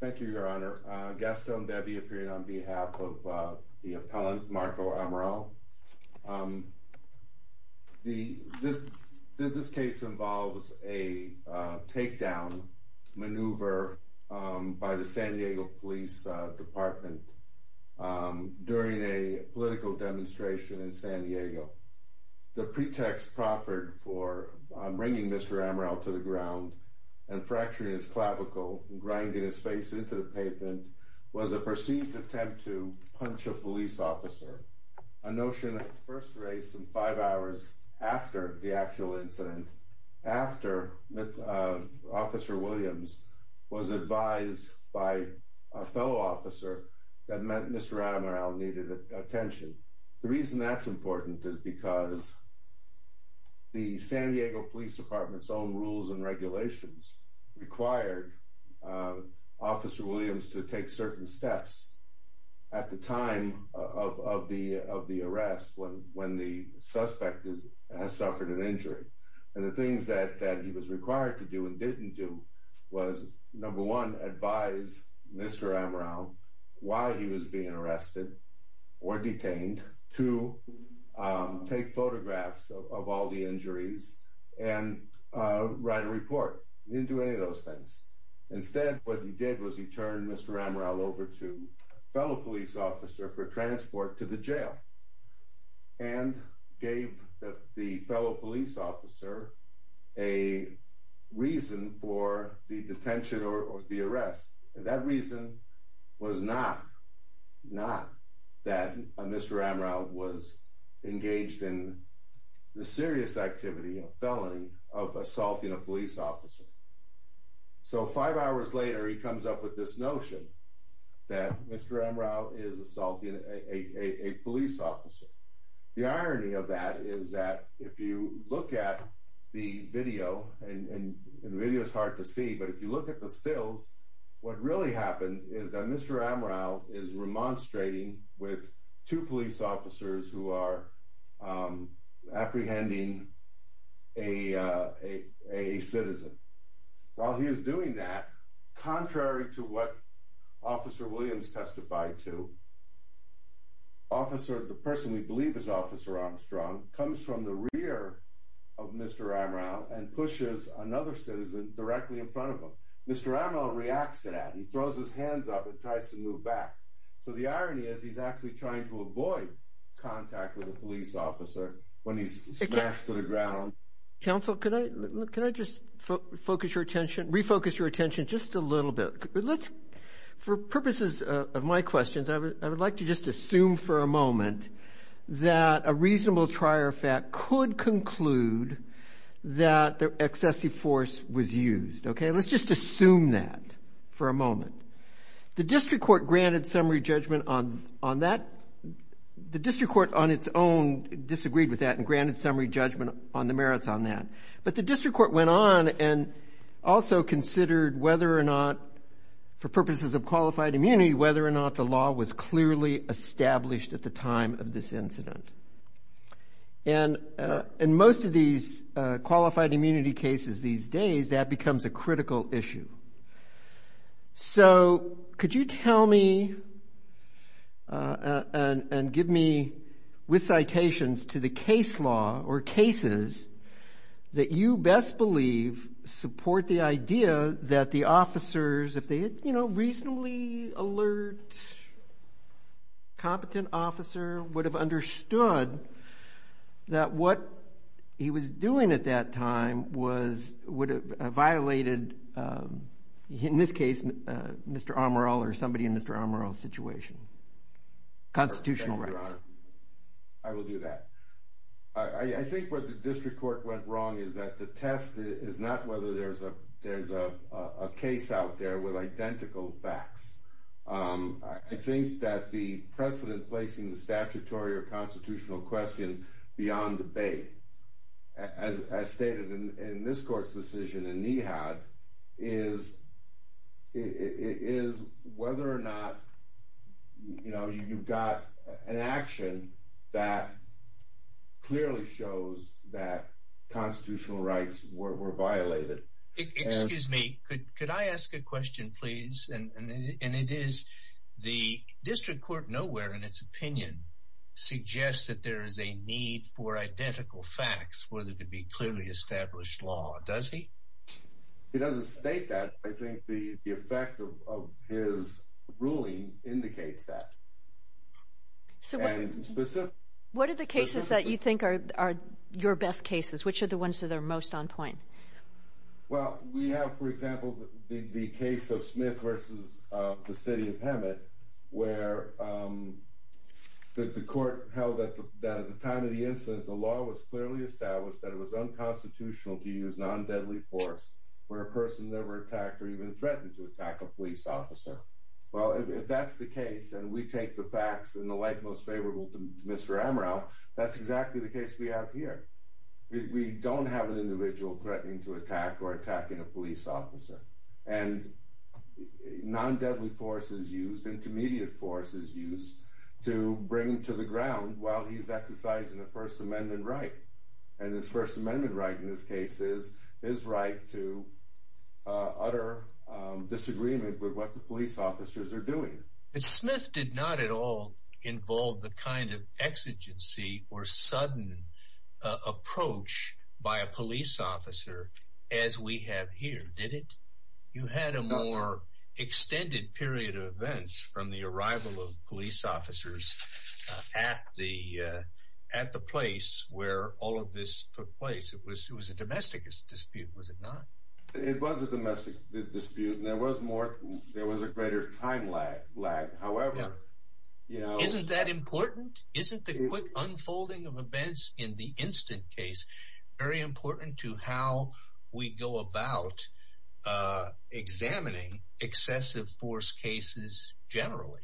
Thank you, your honor. Gaston Bebbi, appearing on behalf of the appellant Marco Amaral. This case involves a takedown maneuver by the San Diego Police Department during a political demonstration in San Diego. The pretext proffered for bringing Mr. Amaral to the ground and fracturing his clavicle and grinding his face into the pavement was a perceived attempt to punch a police officer. A notion that first raised some five hours after the actual incident, after Officer Williams was advised by a fellow officer that Mr. Amaral needed attention. The reason that's important is because the San Diego Police Department's own rules and regulations required Officer Williams to take certain steps at the time of the arrest when the suspect has suffered an injury. And the things that he was required to do and didn't do was, number one, advise Mr. Amaral why he was being arrested or detained, two, take photographs of all the injuries and write a report. He didn't do any of those things. Instead, what he did was he turned Mr. Amaral over to a fellow police officer for transport to the jail and gave the fellow police officer a reason for the detention or the arrest. That reason was not that Mr. Amaral was engaged in the serious activity, a felony, of assaulting a police officer. So five hours later, he comes up with this notion that Mr. Amaral is assaulting a police officer. The irony of that is that if you look at the video, and the video is hard to see, but if you look at the stills, what really happened is that Mr. Amaral is remonstrating with two police officers who are apprehending a citizen. While he is doing that, contrary to what Officer Williams testified to, the person we believe is Officer Armstrong comes from the rear of Mr. Amaral and pushes another citizen directly in front of him. Mr. Amaral reacts to that. He throws his hands up and tries to move back. So the irony is he's actually trying to avoid contact with a police officer when he's smashed to the ground. Counsel, can I just focus your attention, refocus your attention just a little bit? For purposes of my questions, I would like to just assume for a moment that a reasonable trier fact could conclude that excessive force was used. OK, let's just assume that for a moment. The district court granted summary judgment on that. The district court on its own disagreed with that and granted summary judgment on the merits on that. But the district court went on and also considered whether or not, for purposes of qualified immunity, whether or not the law was clearly established at the time of this incident. And in most of these qualified immunity cases these days, that becomes a critical issue. So could you tell me and give me with citations to the case law or cases that you best believe support the idea that the officers, if they had, you know, reasonably alert, competent officer, would have understood that what he was doing at that time would have violated, in this case, Mr. Amaral or somebody in Mr. Amaral's situation. Constitutional rights. I will do that. I think what the district court went wrong is that the test is not whether there's a case out there with identical facts. I think that the precedent placing the statutory or constitutional question beyond debate, as stated in this court's decision in NEHAT, is whether or not, you know, you've got an action that clearly shows that constitutional rights were violated. Excuse me. Could I ask a question, please? And it is the district court nowhere in its opinion suggests that there is a need for identical facts for there to be clearly established law. Does he? He doesn't state that. I think the effect of his ruling indicates that. What are the cases that you think are your best cases? Which are the ones that are most on point? Well, we have, for example, the case of Smith versus the city of Hemet, where the court held that at the time of the incident, the law was clearly established that it was unconstitutional to use non-deadly force where a person never attacked or even threatened to attack a police officer. Well, if that's the case, and we take the facts in the light most favorable to Mr. Amaral, that's exactly the case we have here. We don't have an individual threatening to attack or attacking a police officer. And non-deadly force is used, intermediate force is used to bring him to the ground while he's exercising a First Amendment right. And his First Amendment right in this case is his right to utter disagreement with what the police officers are doing. But Smith did not at all involve the kind of exigency or sudden approach by a police officer as we have here, did it? You had a more extended period of events from the arrival of police officers at the place where all of this took place. It was a domestic dispute, was it not? It was a domestic dispute, and there was a greater time lag. Isn't that important? Isn't the quick unfolding of events in the instant case very important to how we go about examining excessive force cases generally?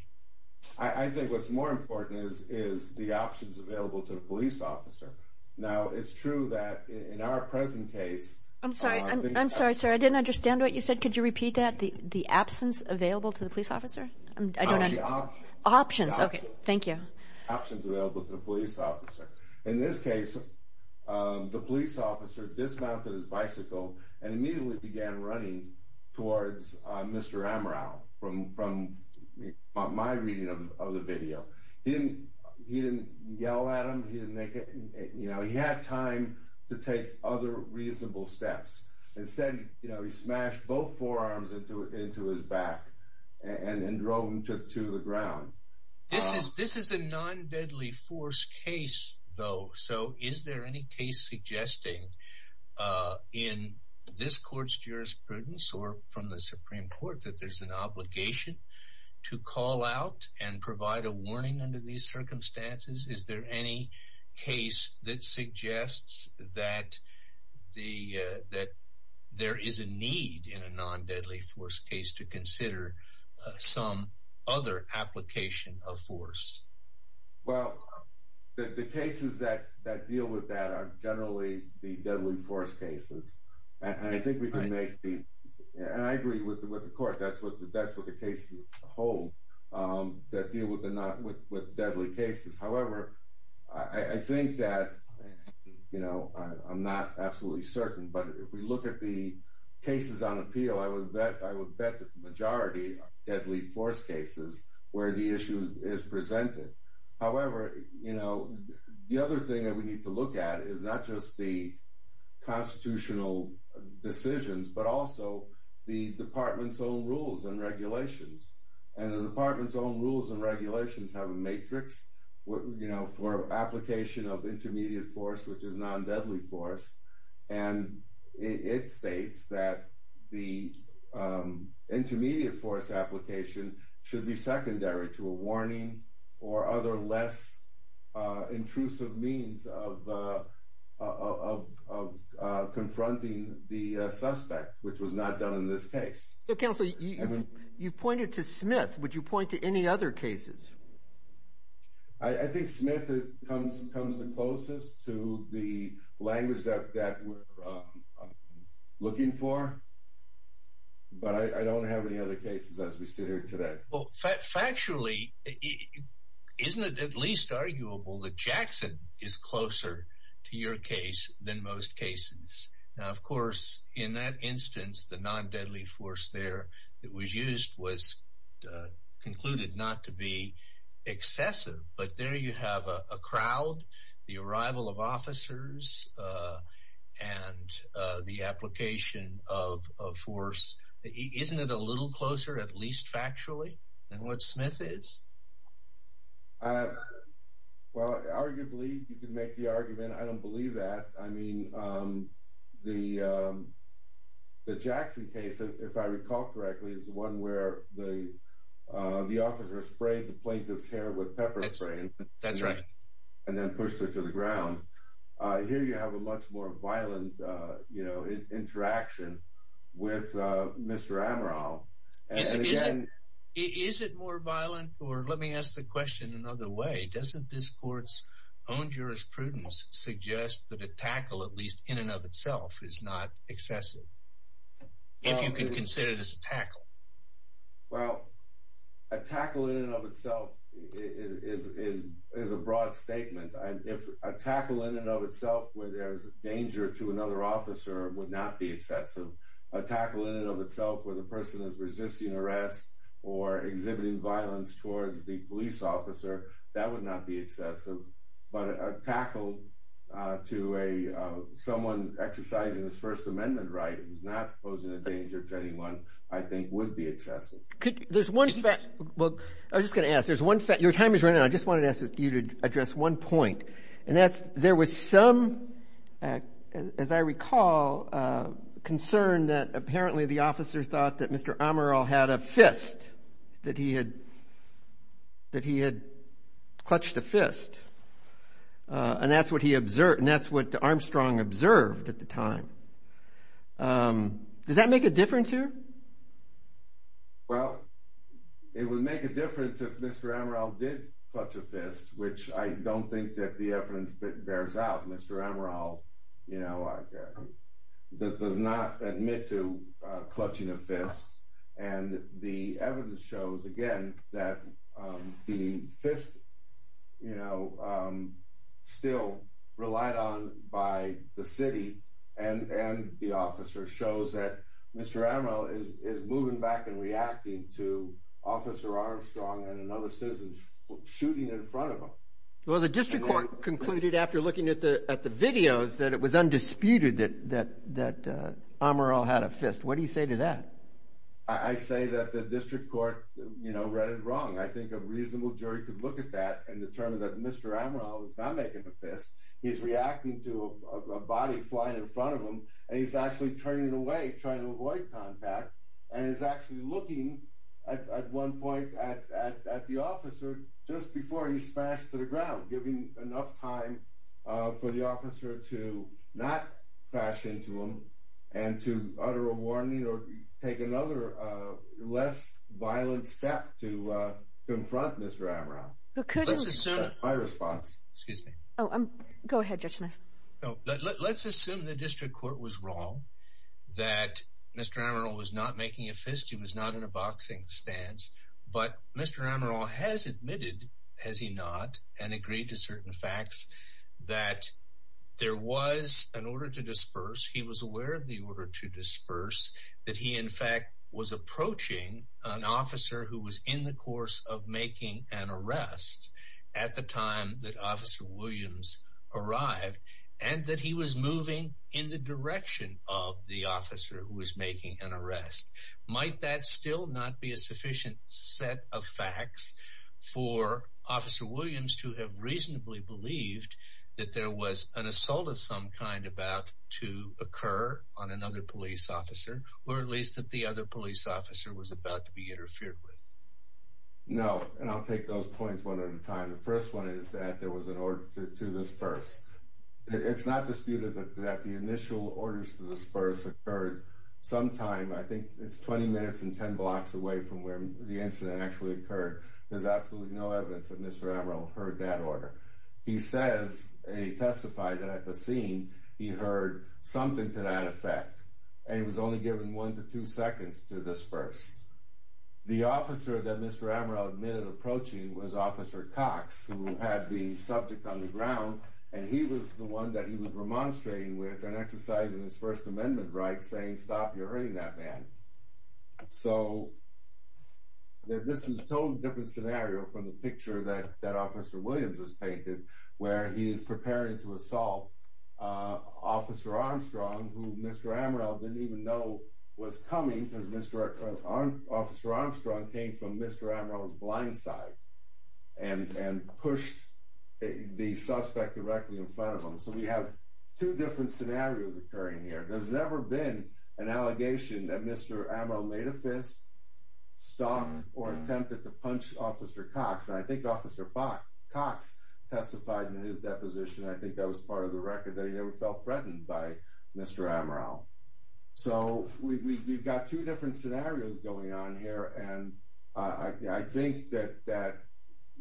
I think what's more important is the options available to the police officer. Now, it's true that in our present case... I'm sorry, sir, I didn't understand what you said. Could you repeat that? The absence available to the police officer? Options. Options, okay. Thank you. Options available to the police officer. In this case, the police officer dismounted his bicycle and immediately began running towards Mr. Amaral from my reading of the video. He didn't yell at him. He had time to take other reasonable steps. Instead, he smashed both forearms into his back and drove him to the ground. This is a non-deadly force case, though, so is there any case suggesting in this court's jurisprudence or from the Supreme Court that there's an obligation to call out and provide a warning under these circumstances? Is there any case that suggests that there is a need in a non-deadly force case to consider some other application of force? Well, the cases that deal with that are generally the deadly force cases. And I agree with the court. That's what the cases hold that deal with deadly cases. However, I think that, you know, I'm not absolutely certain, but if we look at the cases on appeal, I would bet that the majority are deadly force cases where the issue is presented. However, you know, the other thing that we need to look at is not just the constitutional decisions, but also the department's own rules and regulations. And the department's own rules and regulations have a matrix, you know, for application of intermediate force, which is non-deadly force. And it states that the intermediate force application should be secondary to a warning or other less intrusive means of confronting the suspect, which was not done in this case. So, counsel, you pointed to Smith. Would you point to any other cases? I think Smith comes the closest to the language that we're looking for, but I don't have any other cases as we sit here today. Well, factually, isn't it at least arguable that Jackson is closer to your case than most cases? Now, of course, in that instance, the non-deadly force there that was used was concluded not to be excessive, but there you have a crowd, the arrival of officers, and the application of force. Isn't it a little closer, at least factually, than what Smith is? Well, arguably, you could make the argument I don't believe that. I mean, the Jackson case, if I recall correctly, is the one where the officer sprayed the plaintiff's hair with pepper spray. That's right. And then pushed her to the ground. Here you have a much more violent interaction with Mr. Amaral. Is it more violent? Or let me ask the question another way. Doesn't this court's own jurisprudence suggest that a tackle, at least in and of itself, is not excessive, if you can consider this a tackle? Well, a tackle in and of itself is a broad statement. A tackle in and of itself where there's danger to another officer would not be excessive. A tackle in and of itself where the person is resisting arrest or exhibiting violence towards the police officer, that would not be excessive. But a tackle to someone exercising his First Amendment right, who's not posing a danger to anyone, I think would be excessive. There's one fact. Well, I was just going to ask. Your time is running out. I just wanted to ask you to address one point. There was some, as I recall, concern that apparently the officer thought that Mr. Amaral had a fist, that he had clutched a fist. And that's what Armstrong observed at the time. Does that make a difference here? Well, it would make a difference if Mr. Amaral did clutch a fist, which I don't think that the evidence bears out. Mr. Amaral does not admit to clutching a fist. And the evidence shows, again, that the fist still relied on by the city and the officer shows that Mr. Amaral is moving back and reacting to Officer Armstrong and another citizen shooting in front of him. Well, the district court concluded after looking at the videos that it was undisputed that Amaral had a fist. What do you say to that? I say that the district court read it wrong. I think a reasonable jury could look at that and determine that Mr. Amaral was not making a fist. He's reacting to a body flying in front of him, and he's actually turning away, trying to avoid contact, and is actually looking at one point at the officer just before he's smashed to the ground, giving enough time for the officer to not crash into him and to utter a warning or take another less violent step to confront Mr. Amaral. Let's assume the district court was wrong that Mr. Amaral was not making a fist, he was not in a boxing stance, but Mr. Amaral has admitted, has he not, and agreed to certain facts, that there was an order to disperse. That he, in fact, was approaching an officer who was in the course of making an arrest at the time that Officer Williams arrived, and that he was moving in the direction of the officer who was making an arrest. Might that still not be a sufficient set of facts for Officer Williams to have reasonably believed that there was an assault of some kind about to occur on another police officer, or at least that the other police officer was about to be interfered with? No, and I'll take those points one at a time. The first one is that there was an order to disperse. It's not disputed that the initial orders to disperse occurred sometime, I think it's 20 minutes and 10 blocks away from where the incident actually occurred. There's absolutely no evidence that Mr. Amaral heard that order. He says, and he testified at the scene, he heard something to that effect, and he was only given one to two seconds to disperse. The officer that Mr. Amaral admitted approaching was Officer Cox, who had the subject on the ground, and he was the one that he was remonstrating with and exercising his First Amendment right, saying, stop, you're hurting that man. So this is a totally different scenario from the picture that Officer Williams has painted, where he is preparing to assault Officer Armstrong, who Mr. Amaral didn't even know was coming, because Officer Armstrong came from Mr. Amaral's blind side and pushed the suspect directly in front of him. So we have two different scenarios occurring here. There's never been an allegation that Mr. Amaral made a fist, stopped, or attempted to punch Officer Cox. I think Officer Cox testified in his deposition, and I think that was part of the record, that he never felt threatened by Mr. Amaral. So we've got two different scenarios going on here, and I think that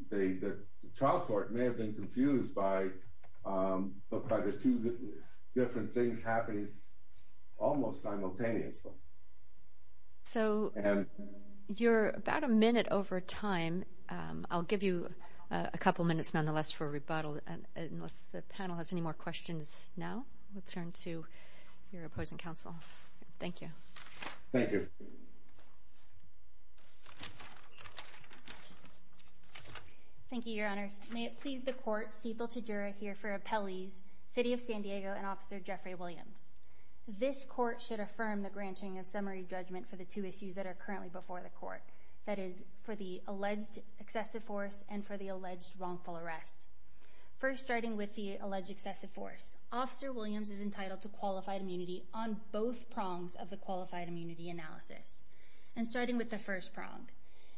the trial court may have been confused by the two different things happening almost simultaneously. So you're about a minute over time. I'll give you a couple minutes, nonetheless, for a rebuttal. And unless the panel has any more questions now, we'll turn to your opposing counsel. Thank you. Thank you. Thank you, Your Honors. May it please the court, Cetil Tejura here for Appellees, City of San Diego, and Officer Jeffrey Williams. This court should affirm the granting of summary judgment for the two issues that are currently before the court, that is, for the alleged excessive force and for the alleged wrongful arrest. First, starting with the alleged excessive force, Officer Williams is entitled to qualified immunity on both prongs of the qualified immunity analysis. And starting with the first prong,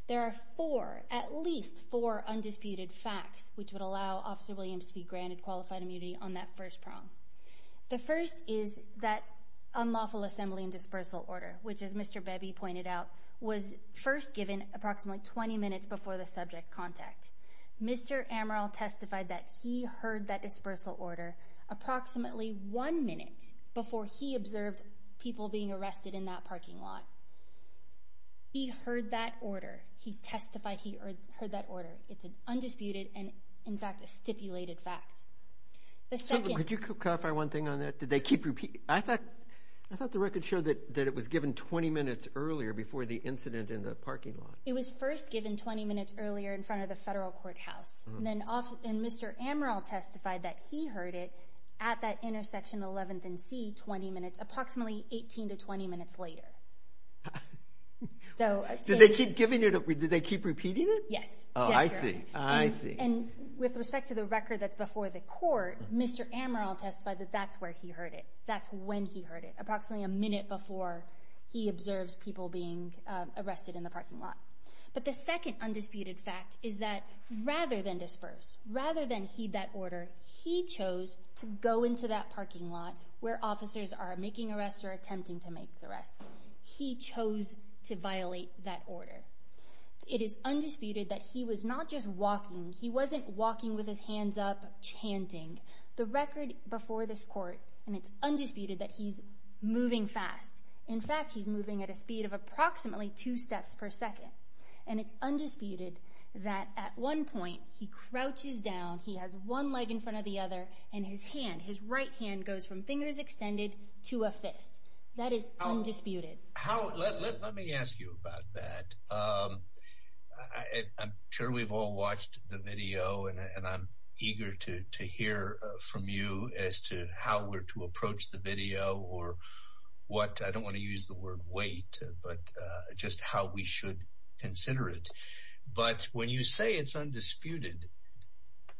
there are four, at least four, undisputed facts which would allow Officer Williams to be granted qualified immunity on that first prong. The first is that unlawful assembly and dispersal order, which, as Mr. Bebby pointed out, was first given approximately 20 minutes before the subject contact. Mr. Amaral testified that he heard that dispersal order approximately one minute before he observed people being arrested in that parking lot. He heard that order. He testified he heard that order. It's an undisputed and, in fact, a stipulated fact. Could you clarify one thing on that? Did they keep repeating it? I thought the record showed that it was given 20 minutes earlier before the incident in the parking lot. It was first given 20 minutes earlier in front of the federal courthouse. And Mr. Amaral testified that he heard it at that intersection 11th and C approximately 18 to 20 minutes later. Did they keep repeating it? Yes. Oh, I see. And with respect to the record that's before the court, Mr. Amaral testified that that's where he heard it. That's when he heard it, approximately a minute before he observes people being arrested in the parking lot. But the second undisputed fact is that rather than disperse, rather than heed that order, he chose to go into that parking lot where officers are making arrests or attempting to make arrests. He chose to violate that order. It is undisputed that he was not just walking. He wasn't walking with his hands up, chanting. The record before this court, and it's undisputed that he's moving fast. In fact, he's moving at a speed of approximately two steps per second. And it's undisputed that at one point he crouches down, he has one leg in front of the other, and his hand, his right hand goes from fingers extended to a fist. That is undisputed. Let me ask you about that. I'm sure we've all watched the video, and I'm eager to hear from you as to how we're to approach the video or what, I don't want to use the word wait, but just how we should consider it. But when you say it's undisputed,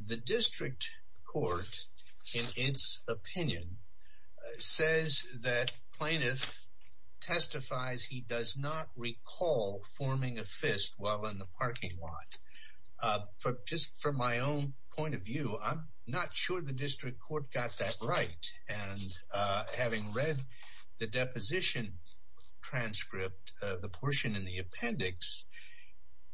the district court, in its opinion, says that plaintiff testifies he does not recall forming a fist while in the parking lot. Just from my own point of view, I'm not sure the district court got that right. And having read the deposition transcript, the portion in the appendix,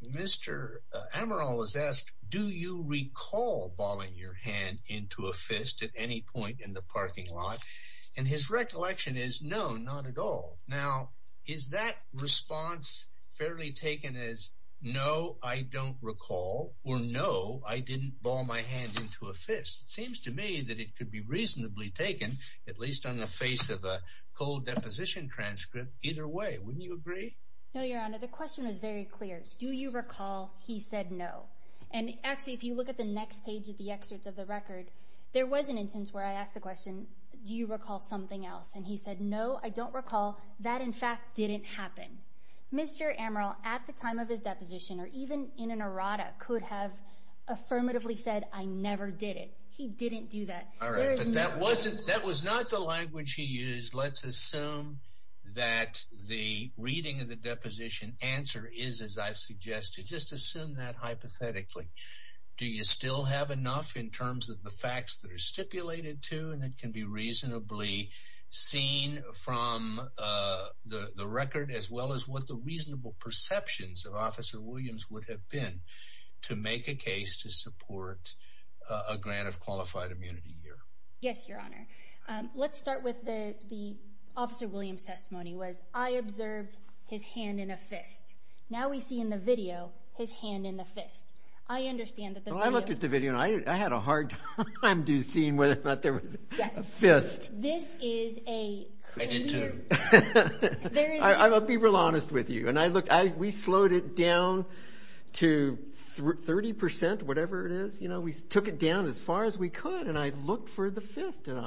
Mr. Amaral was asked, do you recall balling your hand into a fist at any point in the parking lot? And his recollection is no, not at all. Now, is that response fairly taken as no, I don't recall, or no, I didn't ball my hand into a fist? It seems to me that it could be reasonably taken, at least on the face of a cold deposition transcript, either way. Wouldn't you agree? No, Your Honor, the question was very clear. Do you recall he said no? And actually, if you look at the next page of the excerpt of the record, there was an instance where I asked the question, do you recall something else? And he said, no, I don't recall. That, in fact, didn't happen. Mr. Amaral, at the time of his deposition, or even in an errata, could have affirmatively said, I never did it. He didn't do that. All right, but that was not the language he used. Let's assume that the reading of the deposition answer is as I've suggested. Just assume that hypothetically. Do you still have enough in terms of the facts that are stipulated to and that can be reasonably seen from the record, as well as what the reasonable perceptions of Officer Williams would have been to make a case to support a grant of qualified immunity here? Yes, Your Honor. Let's start with the Officer Williams testimony was, I observed his hand in a fist. Now we see in the video his hand in the fist. I understand that the video- Well, I looked at the video, and I had a hard time seeing whether or not there was a fist. This is a clear- I did, too. I'll be real honest with you. We slowed it down to 30 percent, whatever it is. We took it down as far as we could, and I looked for the fist. And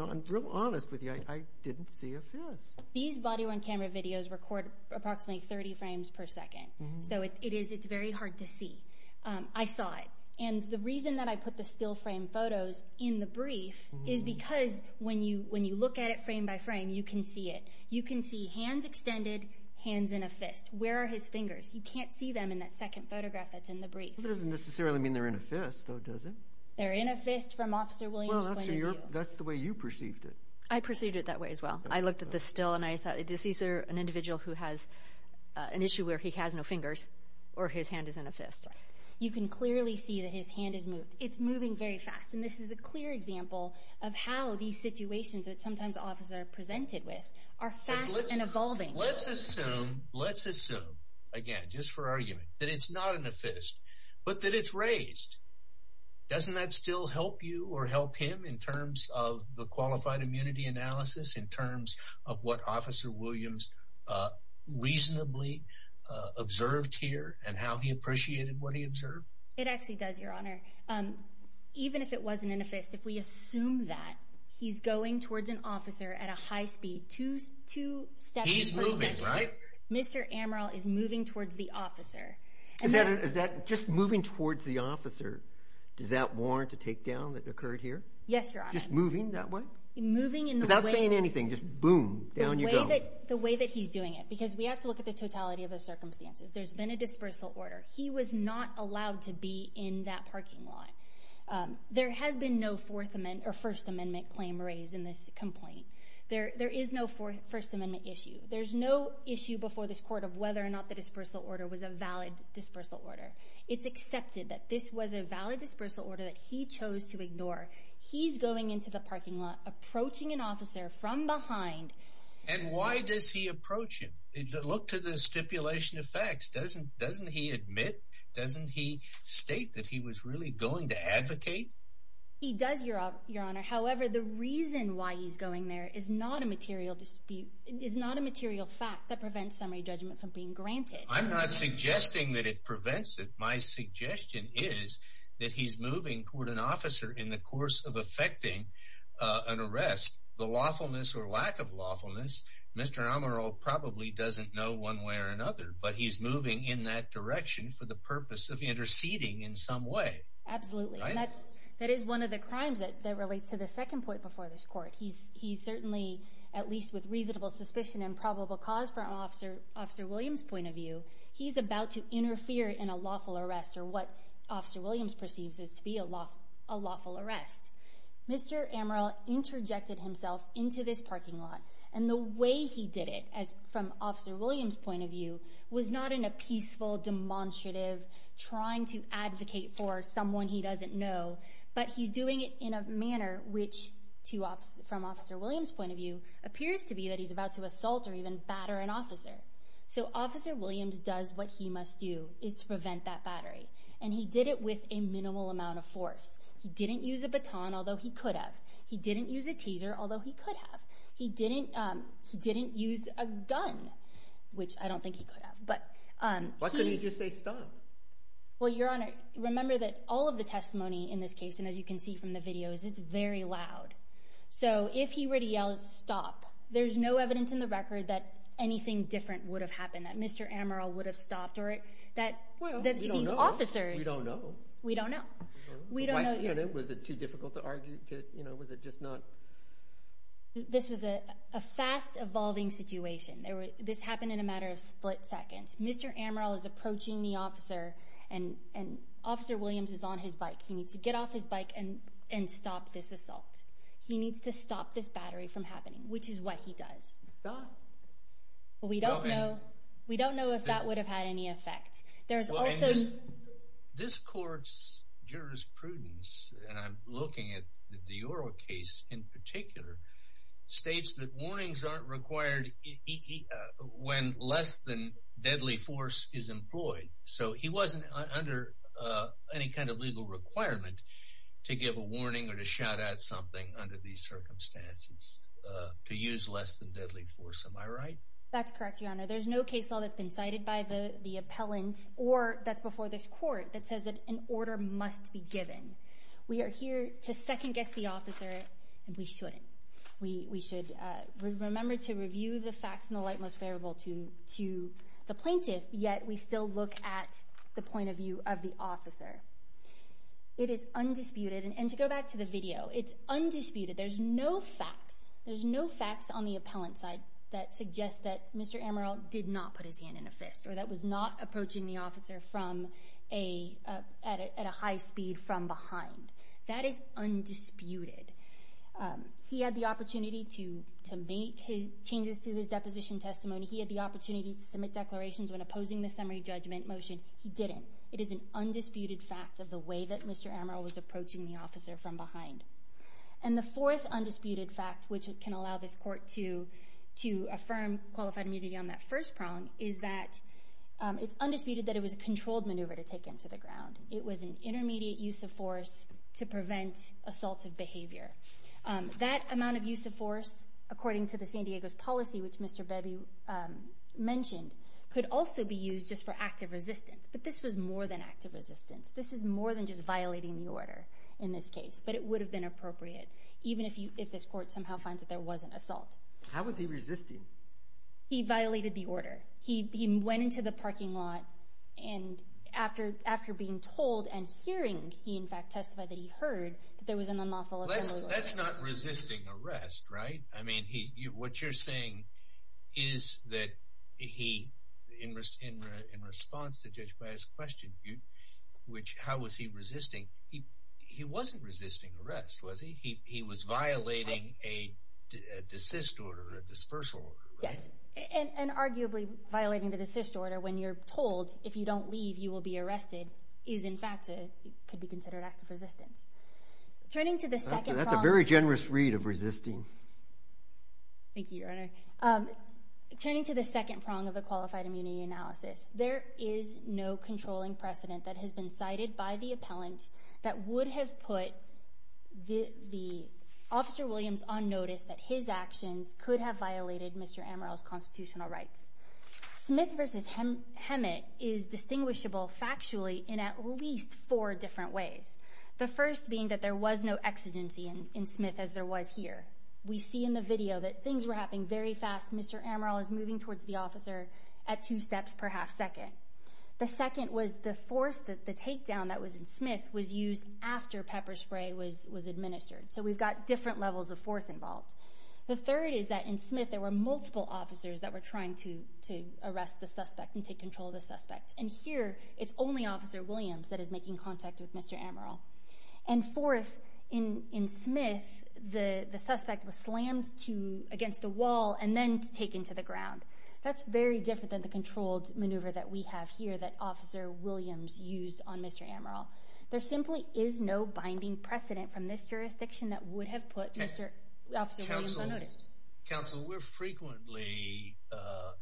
I'm real honest with you. I didn't see a fist. These body-worn camera videos record approximately 30 frames per second, so it's very hard to see. I saw it. And the reason that I put the still frame photos in the brief is because when you look at it frame by frame, you can see it. You can see hands extended, hands in a fist. Where are his fingers? You can't see them in that second photograph that's in the brief. That doesn't necessarily mean they're in a fist, though, does it? They're in a fist from Officer Williams' point of view. Well, that's the way you perceived it. I perceived it that way as well. I looked at the still, and I thought, is this an individual who has an issue where he has no fingers or his hand is in a fist? You can clearly see that his hand is moved. It's moving very fast. And this is a clear example of how these situations that sometimes officers are presented with are fast and evolving. Let's assume, again, just for argument, that it's not in a fist, but that it's raised. Doesn't that still help you or help him in terms of the qualified immunity analysis in terms of what Officer Williams reasonably observed here and how he appreciated what he observed? It actually does, Your Honor. Even if it wasn't in a fist, if we assume that, he's going towards an officer at a high speed, two steps per second. He's moving, right? Mr. Amaral is moving towards the officer. Just moving towards the officer, does that warrant a takedown that occurred here? Yes, Your Honor. Just moving that way? Moving in the way— Without saying anything, just boom, down you go. The way that he's doing it, because we have to look at the totality of those circumstances. There's been a dispersal order. He was not allowed to be in that parking lot. There has been no First Amendment claim raised in this complaint. There is no First Amendment issue. There's no issue before this court of whether or not the dispersal order was a valid dispersal order. It's accepted that this was a valid dispersal order that he chose to ignore. He's going into the parking lot, approaching an officer from behind. And why does he approach him? Look to the stipulation of facts. Doesn't he admit? Doesn't he state that he was really going to advocate? He does, Your Honor. However, the reason why he's going there is not a material fact that prevents summary judgment from being granted. I'm not suggesting that it prevents it. My suggestion is that he's moving toward an officer in the course of effecting an arrest. The lawfulness or lack of lawfulness, Mr. Amaral probably doesn't know one way or another. But he's moving in that direction for the purpose of interceding in some way. Absolutely. And that is one of the crimes that relates to the second point before this court. He's certainly, at least with reasonable suspicion and probable cause from Officer Williams' point of view, he's about to interfere in a lawful arrest or what Officer Williams perceives as to be a lawful arrest. Mr. Amaral interjected himself into this parking lot. And the way he did it, from Officer Williams' point of view, was not in a peaceful, demonstrative, trying to advocate for someone he doesn't know, but he's doing it in a manner which, from Officer Williams' point of view, appears to be that he's about to assault or even batter an officer. So Officer Williams does what he must do, is to prevent that battery. And he did it with a minimal amount of force. He didn't use a baton, although he could have. He didn't use a teaser, although he could have. He didn't use a gun, which I don't think he could have. Why couldn't he just say stop? Well, Your Honor, remember that all of the testimony in this case, and as you can see from the videos, is very loud. So if he were to yell stop, there's no evidence in the record that anything different would have happened, that Mr. Amaral would have stopped or that these officers— Well, we don't know. We don't know. We don't know. Was it too difficult to argue? This was a fast-evolving situation. This happened in a matter of split seconds. Mr. Amaral is approaching the officer, and Officer Williams is on his bike. He needs to get off his bike and stop this assault. He needs to stop this battery from happening, which is what he does. Stop? We don't know. We don't know if that would have had any effect. This court's jurisprudence, and I'm looking at the Oro case in particular, states that warnings aren't required when less than deadly force is employed. So he wasn't under any kind of legal requirement to give a warning or to shout out something under these circumstances, to use less than deadly force. That's correct, Your Honor. There's no case law that's been cited by the appellant or that's before this court that says that an order must be given. We are here to second-guess the officer, and we shouldn't. We should remember to review the facts in the light most favorable to the plaintiff, yet we still look at the point of view of the officer. It is undisputed, and to go back to the video, it's undisputed. There's no facts. There's no facts on the appellant's side that suggest that Mr. Amaral did not put his hand in a fist or that was not approaching the officer at a high speed from behind. That is undisputed. He had the opportunity to make changes to his deposition testimony. He had the opportunity to submit declarations when opposing the summary judgment motion. He didn't. It is an undisputed fact of the way that Mr. Amaral was approaching the officer from behind. And the fourth undisputed fact, which can allow this court to affirm qualified immunity on that first prong, is that it's undisputed that it was a controlled maneuver to take him to the ground. It was an intermediate use of force to prevent assaultive behavior. That amount of use of force, according to the San Diego's policy, which Mr. Bebe mentioned, could also be used just for active resistance, but this was more than active resistance. This is more than just violating the order in this case, but it would have been appropriate, even if this court somehow finds that there was an assault. How was he resisting? He violated the order. He went into the parking lot, and after being told and hearing, he in fact testified that he heard that there was an unlawful assembly order. That's not resisting arrest, right? I mean, what you're saying is that he, in response to Judge Baez's question, which how was he resisting, he wasn't resisting arrest, was he? He was violating a desist order, a dispersal order, right? Yes, and arguably violating the desist order when you're told if you don't leave you will be arrested is in fact could be considered active resistance. That's a very generous read of resisting. Thank you, Your Honor. Turning to the second prong of the qualified immunity analysis, there is no controlling precedent that has been cited by the appellant that would have put the Officer Williams on notice that his actions could have violated Mr. Amaral's constitutional rights. Smith v. Hemet is distinguishable factually in at least four different ways. The first being that there was no exigency in Smith as there was here. We see in the video that things were happening very fast. Mr. Amaral is moving towards the officer at two steps per half second. The second was the force, the takedown that was in Smith was used after pepper spray was administered. So we've got different levels of force involved. The third is that in Smith there were multiple officers that were trying to arrest the suspect and take control of the suspect. And here it's only Officer Williams that is making contact with Mr. Amaral. And fourth, in Smith, the suspect was slammed against a wall and then taken to the ground. That's very different than the controlled maneuver that we have here that Officer Williams used on Mr. Amaral. There simply is no binding precedent from this jurisdiction that would have put Officer Williams on notice. Counsel, we're frequently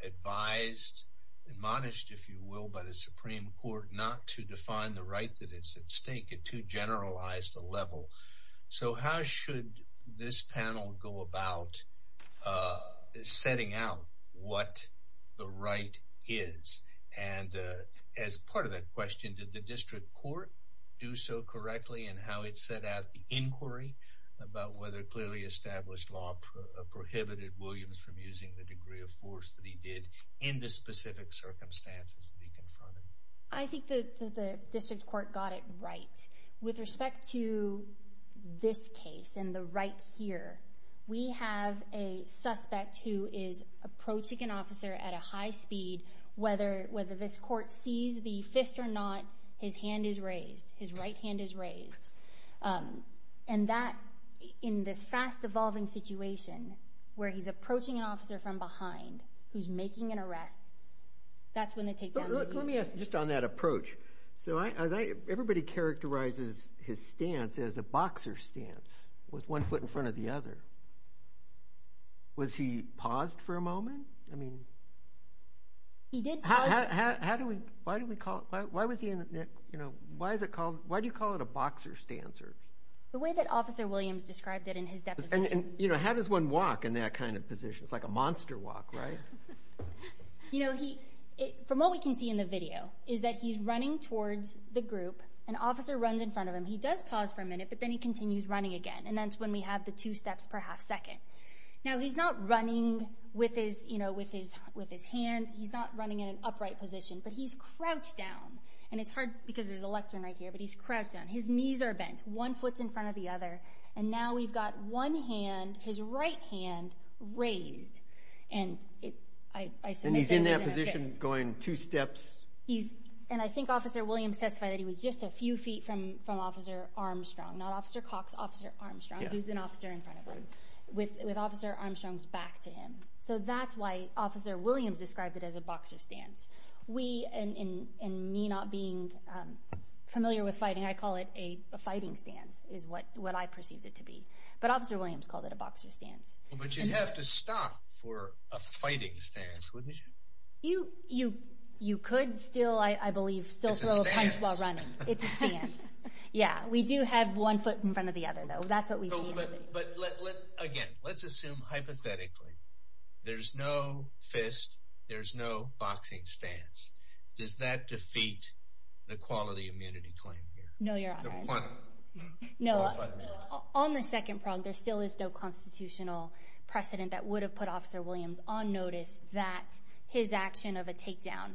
advised, admonished, if you will, by the Supreme Court not to define the right that is at stake at too generalized a level. So how should this panel go about setting out what the right is? And as part of that question, did the district court do so correctly in how it set out the inquiry about whether clearly established law prohibited Williams from using the degree of force that he did in the specific circumstances that he confronted? I think that the district court got it right. With respect to this case and the right here, we have a suspect who is approaching an officer at a high speed. Whether this court sees the fist or not, his hand is raised. His right hand is raised. And that, in this fast-evolving situation where he's approaching an officer from behind who's making an arrest, that's when they take down the speech. Let me ask just on that approach. Everybody characterizes his stance as a boxer's stance with one foot in front of the other. Was he paused for a moment? He did pause. Why do you call it a boxer's stance? The way that Officer Williams described it in his deposition. How does one walk in that kind of position? It's like a monster walk, right? From what we can see in the video is that he's running towards the group. An officer runs in front of him. He does pause for a minute, but then he continues running again. And that's when we have the two steps per half second. Now, he's not running with his hand. He's not running in an upright position. But he's crouched down. And it's hard because there's a lectern right here, but he's crouched down. His knees are bent. One foot's in front of the other. And now we've got one hand, his right hand, raised. And he's in that position going two steps. And I think Officer Williams testified that he was just a few feet from Officer Armstrong. Not Officer Cox, Officer Armstrong, who's an officer in front of him. With Officer Armstrong's back to him. So that's why Officer Williams described it as a boxer's stance. We, in me not being familiar with fighting, I call it a fighting stance is what I perceived it to be. But Officer Williams called it a boxer's stance. But you'd have to stop for a fighting stance, wouldn't you? You could still, I believe, still throw a punch while running. It's a stance. It's a stance. Yeah. We do have one foot in front of the other, though. That's what we see. But, again, let's assume hypothetically there's no fist, there's no boxing stance. Does that defeat the quality immunity claim here? No, Your Honor. No. On the second prong, there still is no constitutional precedent that would have put Officer Williams on notice that his action of a takedown.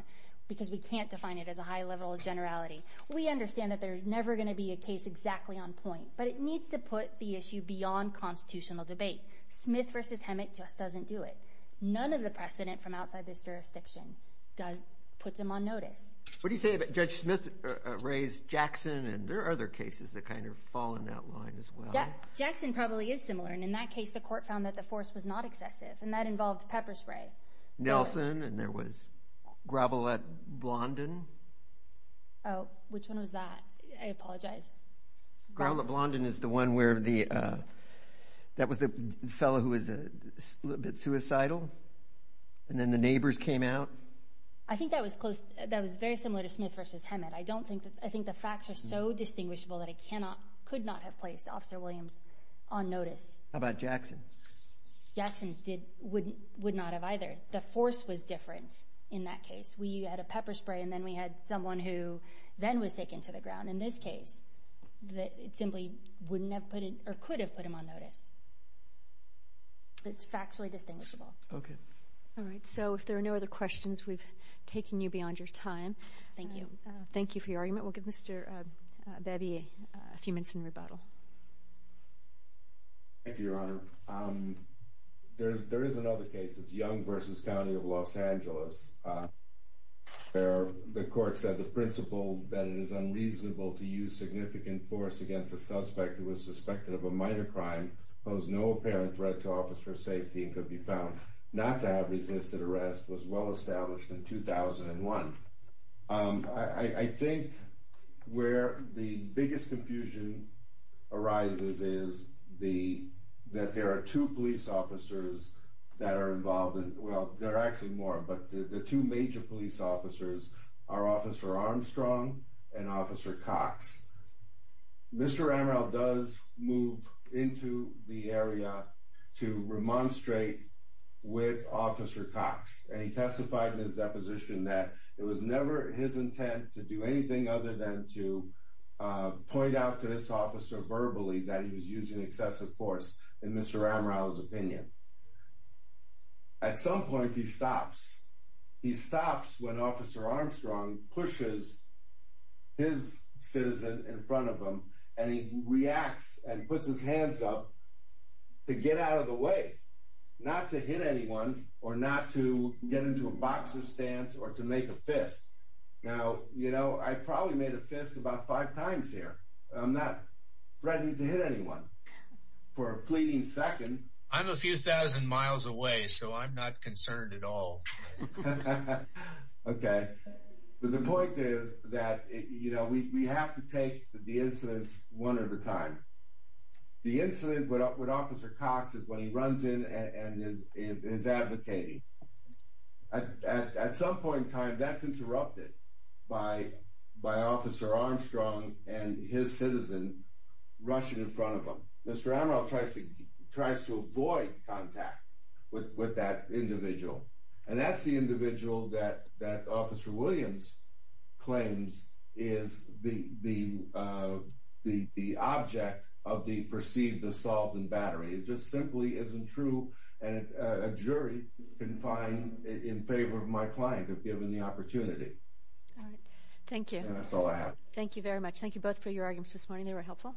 Because we can't define it as a high level of generality. We understand that there's never going to be a case exactly on point. But it needs to put the issue beyond constitutional debate. Smith v. Hemet just doesn't do it. None of the precedent from outside this jurisdiction puts him on notice. What do you say about Judge Smith's race, Jackson, and there are other cases that kind of fall in that line as well. Yeah. Jackson probably is similar. And in that case, the court found that the force was not excessive. And that involved pepper spray. Nelson, and there was Gravelette Blondin. Oh, which one was that? I apologize. Gravelette Blondin is the one where the – that was the fellow who was a little bit suicidal? And then the neighbors came out? I think that was close. That was very similar to Smith v. Hemet. I don't think – I think the facts are so distinguishable that it cannot – could not have placed Officer Williams on notice. How about Jackson? Jackson did – would not have either. The force was different in that case. We had a pepper spray, and then we had someone who then was taken to the ground. In this case, it simply wouldn't have put him – or could have put him on notice. It's factually distinguishable. Okay. All right. So if there are no other questions, we've taken you beyond your time. Thank you. Thank you for your argument. We'll give Mr. Bebby a few minutes in rebuttal. Thank you, Your Honor. There is another case. It's Young v. County of Los Angeles, where the court said the principle that it is unreasonable to use significant force against a suspect who is suspected of a minor crime, pose no apparent threat to officer safety, and could be found not to have resisted arrest, was well established in 2001. I think where the biggest confusion arises is that there are two police officers that are involved in – well, there are actually more, but the two major police officers are Officer Armstrong and Officer Cox. Mr. Amaral does move into the area to remonstrate with Officer Cox, and he testified in his deposition that it was never his intent to do anything other than to point out to this officer verbally that he was using excessive force, in Mr. Amaral's opinion. At some point, he stops. He stops when Officer Armstrong pushes his citizen in front of him, and he reacts and puts his hands up to get out of the way, not to hit anyone or not to get into a boxer stance or to make a fist. Now, you know, I probably made a fist about five times here. I'm not threatening to hit anyone. For a fleeting second – I'm a few thousand miles away, so I'm not concerned at all. Okay. But the point is that, you know, we have to take the incidents one at a time. The incident with Officer Cox is when he runs in and is advocating. At some point in time, that's interrupted by Officer Armstrong and his citizen rushing in front of him. Mr. Amaral tries to avoid contact with that individual, and that's the individual that Officer Williams claims is the object of the perceived assault and battery. It just simply isn't true, and a jury can find in favor of my client if given the opportunity. All right. Thank you. And that's all I have. Thank you very much. Thank you both for your arguments this morning. They were helpful.